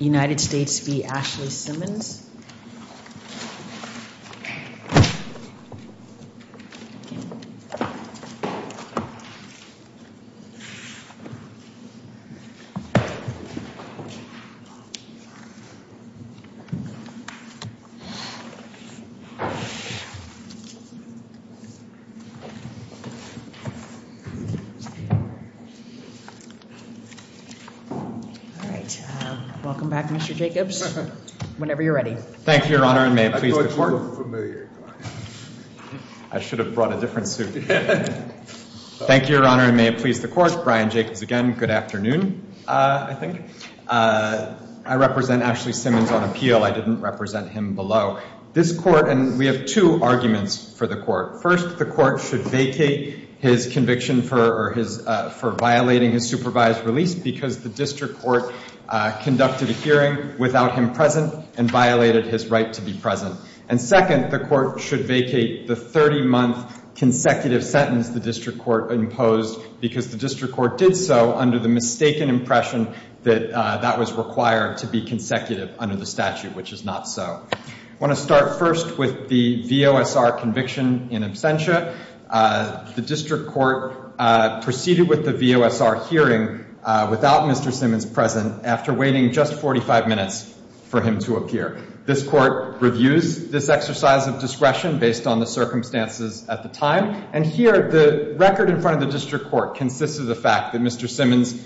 United States v. Ashley Simmons Welcome back, Mr. Jacobs. Whenever you're ready. Thank you, Your Honor, and may it please the Court. I thought you were familiar. I should have brought a different suit. Thank you, Your Honor, and may it please the Court. Brian Jacobs again. Good afternoon, I think. I represent Ashley Simmons on appeal. I didn't represent him below. This Court, and we have two arguments for the Court. First, the Court should vacate his conviction for violating his supervised release because the District Court conducted a hearing without him present and violated his right to be present. And second, the Court should vacate the 30-month consecutive sentence the District Court imposed because the District Court did so under the mistaken impression that that was required to be consecutive under the statute, which is not so. I want to start first with the VOSR conviction in absentia. The District Court proceeded with the VOSR hearing without Mr. Simmons present after waiting just 45 minutes for him to appear. This Court reviews this exercise of discretion based on the circumstances at the time. And here, the record in front of the District Court consists of the fact that Mr. Simmons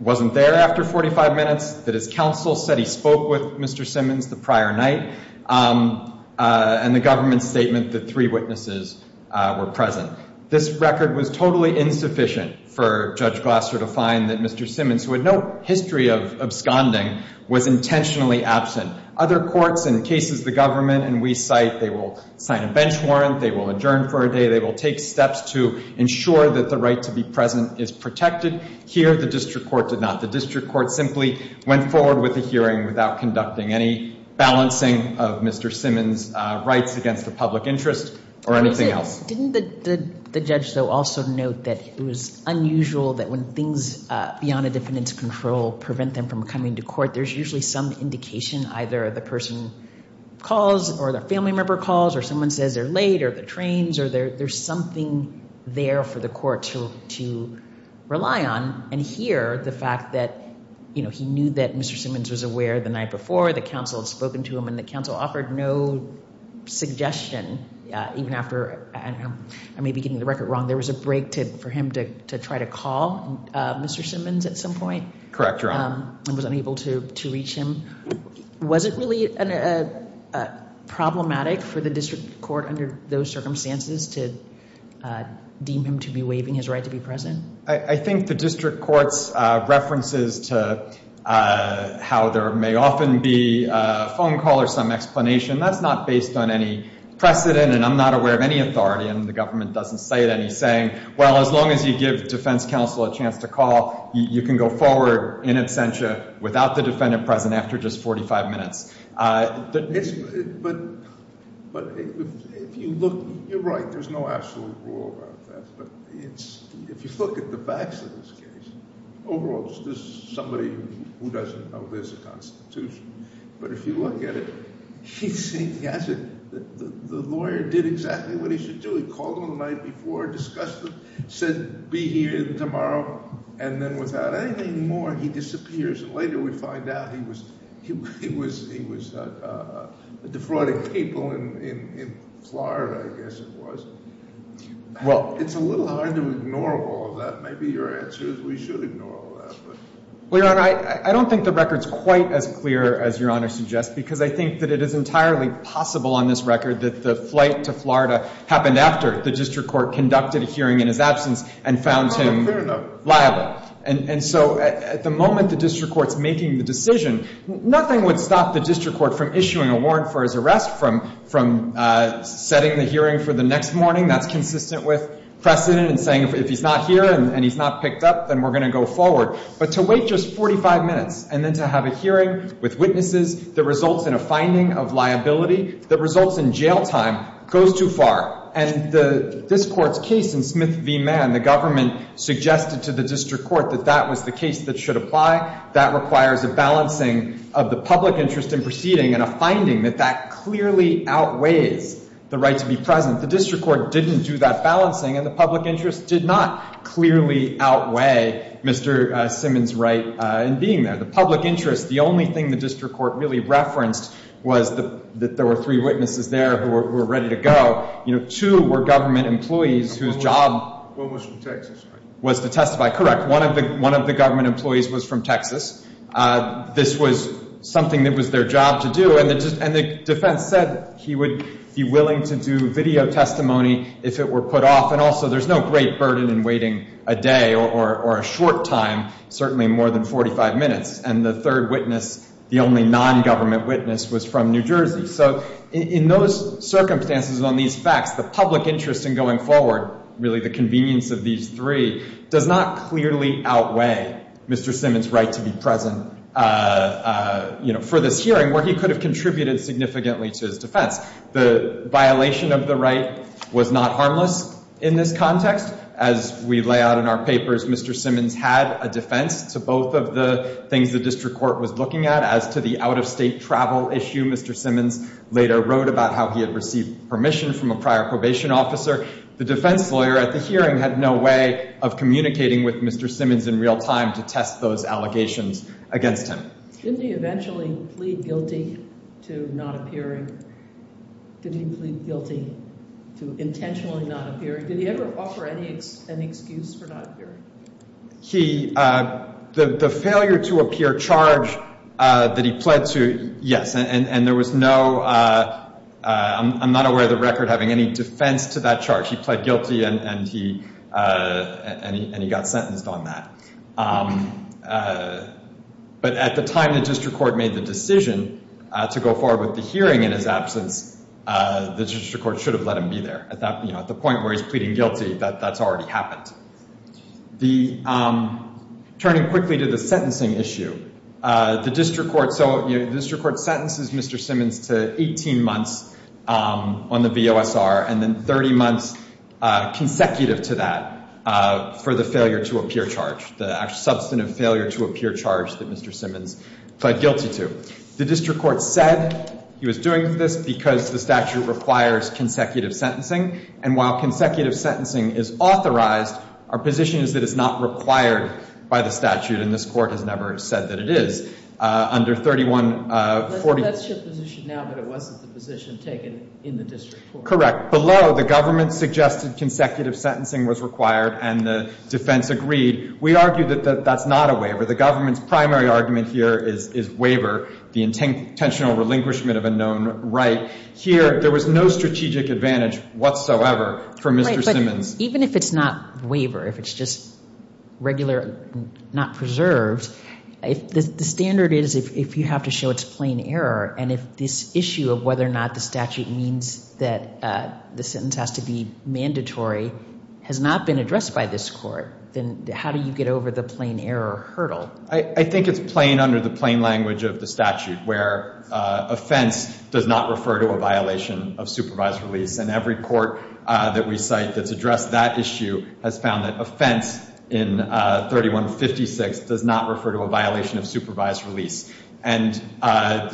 wasn't there after 45 minutes, that his counsel said he spoke with Mr. Simmons the prior night, and the government's statement that three witnesses were present. This record was totally insufficient for Judge Glasser to find that Mr. Simmons, who had no history of absconding, was intentionally absent. Other courts in cases the government and we cite, they will sign a bench warrant, they will adjourn for a day, they will take steps to ensure that the right to be present is protected. Here, the District Court did not. The District Court simply went forward with the hearing without conducting any balancing of Mr. Simmons' rights against the public interest or anything else. Didn't the judge, though, also note that it was unusual that when things beyond a defendant's control prevent them from coming to court, there's usually some indication. Either the person calls, or their family member calls, or someone says they're late, or the trains, or there's something there for the court to rely on. And here, the fact that he knew that Mr. Simmons was aware the night before, the counsel had spoken to him, and the counsel offered no suggestion, even after maybe getting the record wrong. There was a break for him to try to call Mr. Simmons at some point. Correct, Your Honor. And was unable to reach him. Was it really problematic for the District Court under those circumstances to deem him to be waiving his right to be present? I think the District Court's references to how there may often be a phone call or some explanation, that's not based on any precedent, and I'm not aware of any authority, and the government doesn't cite any saying, well, as long as you give defense counsel a chance to call, you can go forward in absentia without the defendant present after just 45 minutes. But if you look, you're right, there's no absolute rule about that. But if you look at the facts of this case, overall, there's somebody who doesn't know there's a constitution. But if you look at it, he hasn't, the lawyer did exactly what he should do. He called him the night before, discussed it, said be here tomorrow, and then without anything more, he disappears. And later, we find out he was defrauding people in Florida, I guess it was. It's a little hard to ignore all of that. Maybe your answer is we should ignore all of that. Well, Your Honor, I don't think the record's quite as clear as Your Honor suggests, because I think it is entirely possible on this record that the flight to Florida happened after the district court conducted a hearing in his absence and found him liable. And so at the moment the district court's making the decision, nothing would stop the district court from issuing a warrant for his arrest, from setting the hearing for the next morning. That's consistent with precedent and saying if he's not here and he's not picked up, then we're going to go forward. But to wait just 45 minutes and then to have a hearing with witnesses that results in a finding of liability, that results in jail time, goes too far. And this court's case in Smith v. Mann, the government suggested to the district court that that was the case that should apply. That requires a balancing of the public interest in proceeding and a finding that that clearly outweighs the right to be present. The district court didn't do that balancing, and the public interest did not clearly outweigh Mr. Simmons' right in being there. The public interest, the only thing the district court really referenced was that there were three witnesses there who were ready to go. Two were government employees whose job was to testify. Correct, one of the government employees was from Texas. This was something that was their job to do, and the defense said he would be willing to do video testimony if it were put off. And also, there's no great burden in waiting a day or a short time, certainly more than 45 minutes. And the third witness, the only non-government witness, was from New Jersey. So in those circumstances on these facts, the public interest in going forward, really the convenience of these three, does not clearly outweigh Mr. Simmons' right to be present for this hearing, where he could have contributed significantly to his defense. The violation of the right was not harmless in this context. As we lay out in our papers, Mr. Simmons had a defense to both of the things the district court was looking at as to the out-of-state travel issue. Mr. Simmons later wrote about how he had received permission from a prior probation officer. The defense lawyer at the hearing had no way of communicating with Mr. Simmons in real time to test those allegations against him. Did he eventually plead guilty to not appearing? Did he plead guilty to intentionally not appearing? Did he ever offer any excuse for not appearing? He, the failure to appear charge that he pled to, yes. And there was no, I'm not aware of the record having any defense to that charge. He pled guilty, and he got sentenced on that. But at the time the district court made the decision to go forward with the hearing in his absence, the district court should have let him be there. At the point where he's pleading guilty, that's already happened. Turning quickly to the sentencing issue, the district court sentences Mr. Simmons to 18 months on the VOSR, and then 30 months consecutive to that for the failure to appear charge, the substantive failure to appear charge that Mr. Simmons pled guilty to. The district court said he was doing this because the statute requires consecutive sentencing. And while consecutive sentencing is authorized, our position is that it's not required by the statute, and this court has never said that it is. Under 3140- That's your position now, but it wasn't the position taken in the district court. Correct. Below, the government suggested consecutive sentencing was required, and the defense agreed. We argue that that's not a waiver. The government's primary argument here is waiver, the intentional relinquishment of a known right. Here, there was no strategic advantage. Whatsoever for Mr. Simmons. Even if it's not waiver, if it's just regular, not preserved, the standard is if you have to show it's plain error, and if this issue of whether or not the statute means that the sentence has to be mandatory has not been addressed by this court, then how do you get over the plain error hurdle? I think it's plain under the plain language of the statute, where offense does not refer to a violation of supervised release, and every court that we cite that's addressed that issue has found that offense in 3156 does not refer to a violation of supervised release. And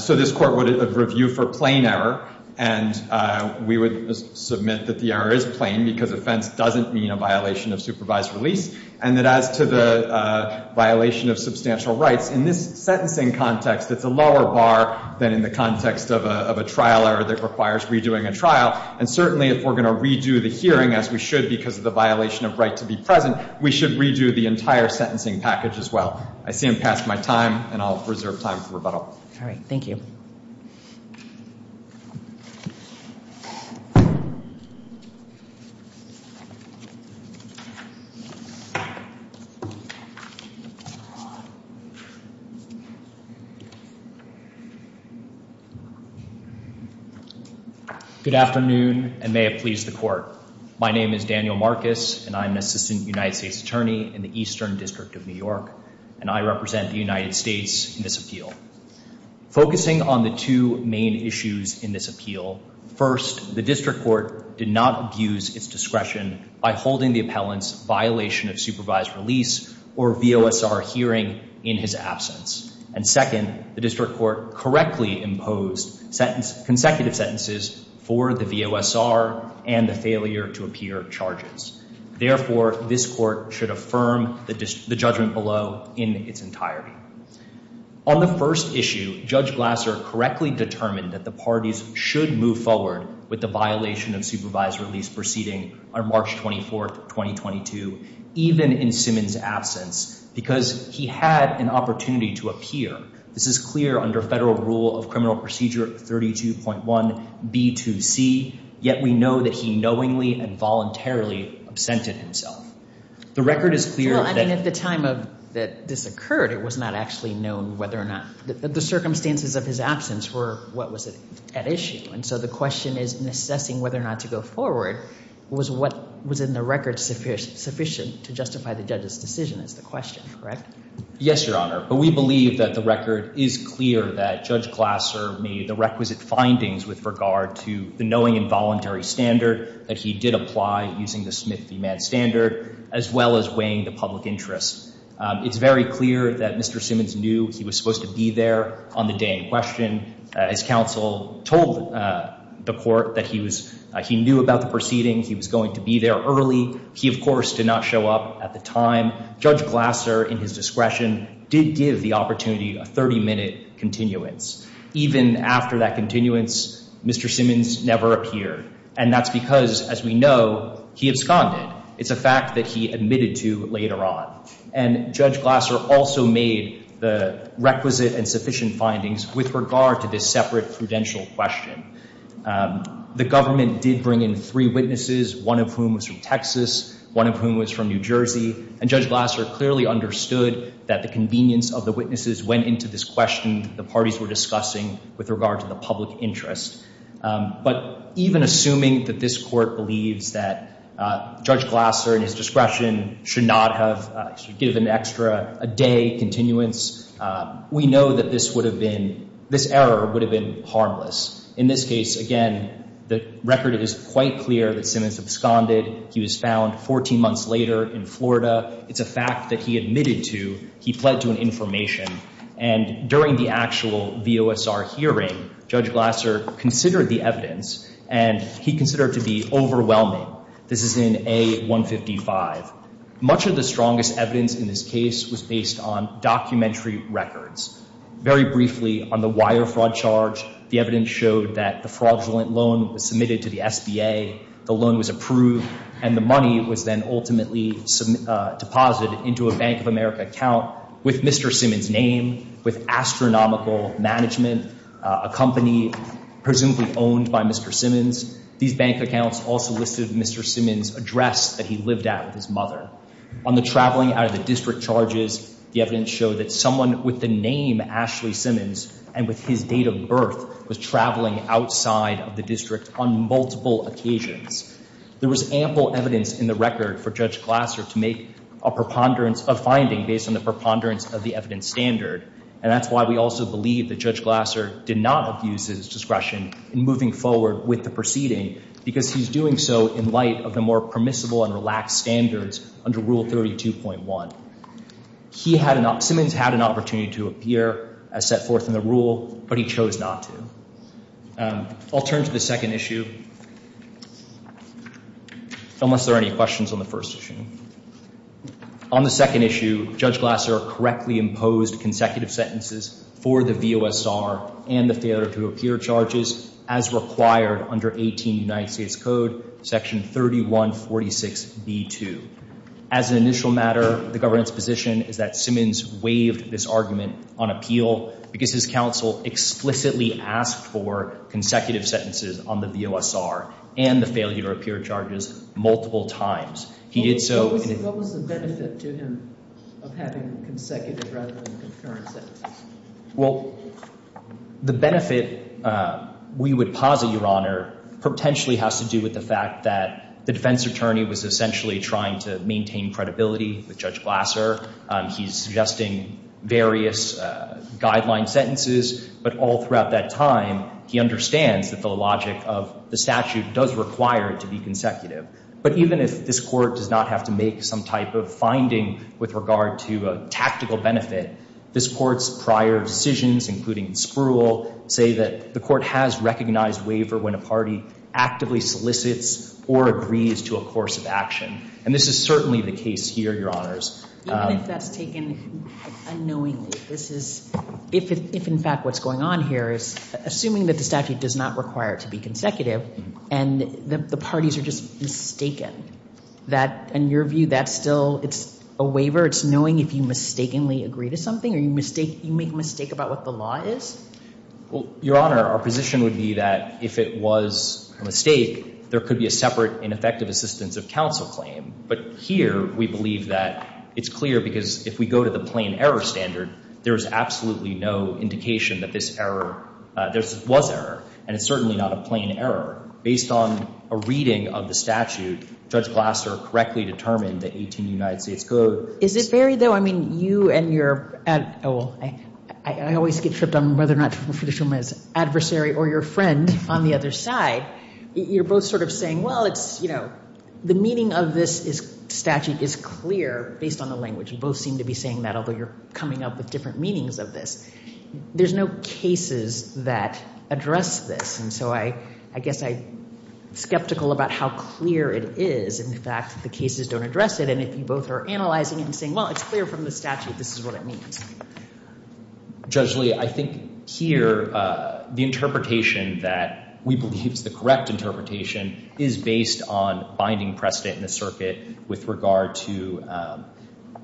so this court would review for plain error, and we would submit that the error is plain, because offense doesn't mean a violation of supervised release. And that as to the violation of substantial rights, in this sentencing context, it's a lower bar than in the context of a trial error that requires redoing a trial. And certainly, if we're going to redo the hearing, as we should because of the violation of right to be present, we should redo the entire sentencing package as well. I see I'm past my time, and I'll reserve time for rebuttal. All right. Thank you. Good afternoon, and may it please the court. My name is Daniel Marcus, and I'm an assistant United States attorney in the Eastern District of New York, and I represent the United States in this appeal. Focusing on the two main issues in this appeal, first, the district court did not abuse its discretion by holding the appellant's violation of supervised release or VOSR hearing in his absence. And second, the district court correctly imposed consecutive sentences for the VOSR and the failure to appear charges. Therefore, this court should affirm the judgment below in its entirety. On the first issue, Judge Glasser correctly determined that the parties should move forward with the violation of supervised release proceeding on March 24, 2022, even in Simmons' absence, because he had an opportunity to appear. This is clear under federal rule of criminal procedure 32.1b2c, yet we know that he knowingly and voluntarily absented himself. The record is clear that- Well, I mean, at the time that this occurred, it was not actually known whether or not the circumstances of his absence were what was at issue. And so the question is, in assessing whether or not to go forward, was what was in the record sufficient to justify the judge's decision is the question, correct? Yes, Your Honor. But we believe that the record is clear that Judge Glasser made the requisite findings with regard to the knowing and voluntary standard that he did apply using the Smith v. Mann standard, as well as weighing the public interest. It's very clear that Mr. Simmons knew he was supposed to be there on the day in question. His counsel told the court that he knew about the proceeding. He was going to be there early. He, of course, did not show up at the time. Judge Glasser, in his discretion, did give the opportunity a 30-minute continuance. Even after that continuance, Mr. Simmons never appeared. And that's because, as we know, he absconded. It's a fact that he admitted to later on. And Judge Glasser also made the requisite and sufficient findings with regard to this separate prudential question. The government did bring in three witnesses, one of whom was from Texas, one of whom was from New Jersey. And Judge Glasser clearly understood that the convenience of the witnesses went into this question the parties were discussing with regard to the public interest. But even assuming that this court believes that Judge Glasser, in his discretion, should not have given an extra day continuance, we know that this error would have been harmless. In this case, again, the record is quite clear that Simmons absconded. He was found 14 months later in Florida. It's a fact that he admitted to. He pled to an information. And during the actual VOSR hearing, Judge Glasser considered the evidence. And he considered it to be overwhelming. This is in A155. Much of the strongest evidence in this case was based on documentary records. Very briefly, on the wire fraud charge, the evidence showed that the fraudulent loan was submitted to the SBA. The loan was approved. And the money was then ultimately deposited into a Bank of America account with Mr. Simmons' name, with astronomical management, a company presumably owned by Mr. Simmons. These bank accounts also listed Mr. Simmons' address that he lived at with his mother. On the traveling out of the district charges, the evidence showed that someone with the name Ashley Simmons and with his date of birth was traveling outside of the district on multiple occasions. There was ample evidence in the record for Judge Glasser to make a finding based on the preponderance of the evidence standard. And that's why we also believe that Judge Glasser did not abuse his discretion in moving forward with the proceeding because he's doing so in light of the more permissible and relaxed standards under Rule 32.1. Simmons had an opportunity to appear as set forth in the rule, but he chose not to. I'll turn to the second issue. Unless there are any questions on the first issue. On the second issue, Judge Glasser correctly imposed consecutive sentences for the VOSR and the failure to appear charges as required under 18 United States Code, Section 3146B2. As an initial matter, the government's position is that Simmons waived this argument on appeal because his counsel explicitly asked for consecutive sentences on the VOSR and the failure to appear charges multiple times. He did so- What was the benefit to him of having consecutive rather than concurrent sentences? Well, the benefit we would posit, Your Honor, potentially has to do with the fact that the defense attorney was essentially trying to maintain credibility with Judge Glasser. He's suggesting various guideline sentences, but all throughout that time, he understands that the logic of the statute does require it to be consecutive. But even if this court does not have to make some type of finding with regard to a tactical benefit, this court's prior decisions, including in Spruill, say that the court has recognized waiver when a party actively solicits or agrees to a course of action. And this is certainly the case here, Your Honors. Even if that's taken unknowingly, this is, if in fact what's going on here is assuming that the statute does not require it to be consecutive and the parties are just mistaken, that, in your view, that's still, it's a waiver? It's knowing if you mistakenly agree to something or you make a mistake about what the law is? Well, Your Honor, our position would be that if it was a mistake, there could be a separate and effective assistance of counsel claim. But here, we believe that it's clear because if we go to the plain error standard, there is absolutely no indication that this error, this was error, and it's certainly not a plain error. Based on a reading of the statute, Judge Glasser correctly determined that 18 United States Code. Is it very, though, I mean, you and your, oh, well, I always get tripped on whether or not to refer to someone as adversary or your friend on the other side. You're both sort of saying, well, it's, you know, the meaning of this statute is clear based on the language. You both seem to be saying that, although you're coming up with different meanings of this. There's no cases that address this. And so I guess I'm skeptical about how clear it is. In fact, the cases don't address it. And if you both are analyzing and saying, well, it's clear from the statute, this is what it means. Judge Lee, I think here, the interpretation that we believe is the correct interpretation is based on binding precedent in the circuit with regard to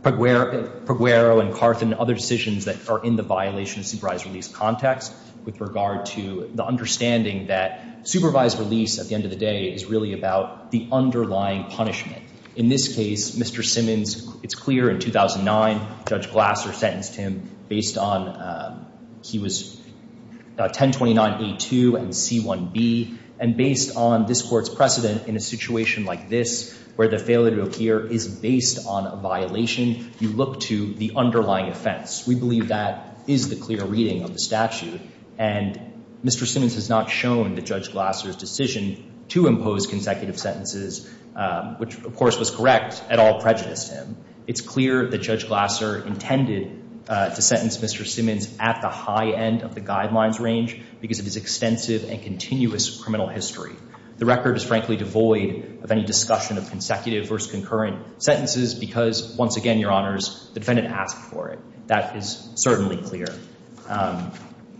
Perguero and Carth and other decisions that are in the violation of supervised release context with regard to the understanding that supervised release at the end of the day is really about the underlying punishment. In this case, Mr. Simmons, it's clear in 2009, Judge Glasser sentenced him based on, he was 1029A2 and C1B. And based on this court's precedent in a situation like this, where the failure to appear is based on a violation, you look to the underlying offense. We believe that is the clear reading of the statute. And Mr. Simmons has not shown that Judge Glasser's decision to impose consecutive sentences, which of course was correct, at all prejudiced him. It's clear that Judge Glasser intended to sentence Mr. Simmons at the high end of the guidelines range because of his extensive and continuous criminal history. The record is frankly devoid of any discussion of consecutive versus concurrent sentences because once again, Your Honors, the defendant asked for it. That is certainly clear.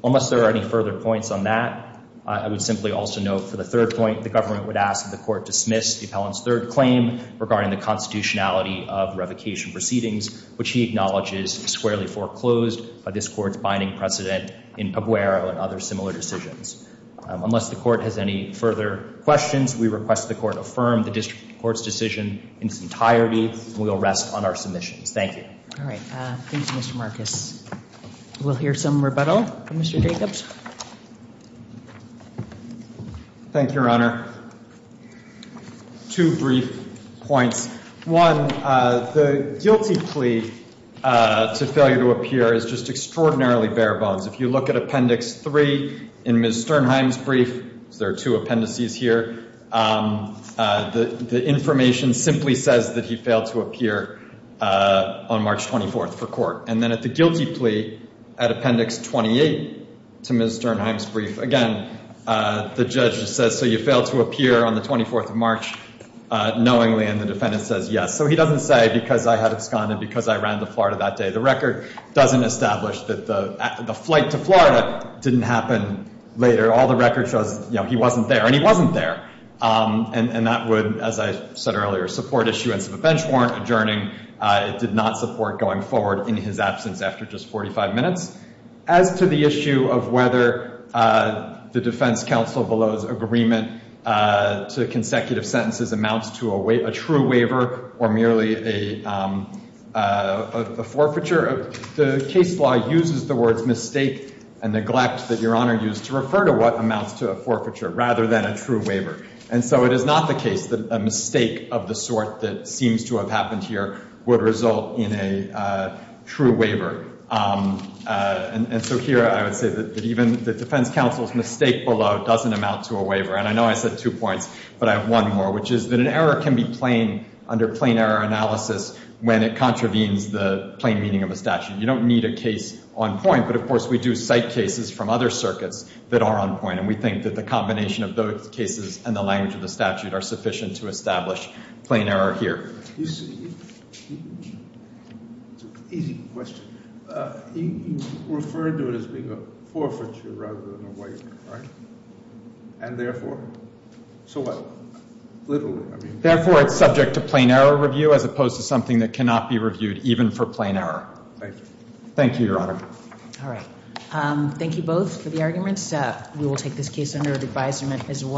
Unless there are any further points on that, I would simply also note for the third point, the government would ask that the court dismiss the appellant's third claim regarding the constitutionality of revocation proceedings, which he acknowledges is squarely foreclosed by this court's binding precedent in Pabuero and other similar decisions. Unless the court has any further questions, we request the court affirm the district court's decision in its entirety, and we will rest on our submissions. Thank you. All right. Thank you, Mr. Marcus. We'll hear some rebuttal from Mr. Jacobs. Thank you, Your Honor. Two brief points. One, the guilty plea to failure to appear is just extraordinarily bare bones. If you look at Appendix 3 in Ms. Sternheim's brief, there are two appendices here, the information simply says that he failed to appear on March 24 for court. And then at the guilty plea at Appendix 28 to Ms. Sternheim's brief, again, the judge says, so you failed to appear on the 24th of March knowingly, and the defendant says yes. So he doesn't say, because I had absconded, because I ran to Florida that day. The record doesn't establish that the flight to Florida didn't happen later. All the record shows he wasn't there, and he wasn't there. And that would, as I said earlier, support issuance of a bench warrant adjourning. It did not support going forward in his absence after just 45 minutes. As to the issue of whether the defense counsel below's agreement to consecutive sentences amounts to a true waiver or merely a forfeiture, the case law uses the words mistake and neglect that Your Honor used to refer to what amounts to a forfeiture rather than a true waiver. And so it is not the case that a mistake of the sort that seems to have happened here would result in a true waiver. And so here, I would say that even the defense counsel's mistake below doesn't amount to a waiver. And I know I said two points, but I have one more, which is that an error can be plain under plain error analysis when it contravenes the plain meaning of a statute. You don't need a case on point. But of course, we do cite cases from other circuits that are on point. And we think that the combination of those cases and the language of the statute are sufficient to establish plain error here. You see, it's an easy question. You referred to it as being a forfeiture rather than a waiver, right? And therefore? So what? Literally, I mean. Therefore, it's subject to plain error review as opposed to something that cannot be reviewed even for plain error. Thank you. Thank you, Your Honor. All right. Thank you both for the arguments. We will take this case under advisement as well.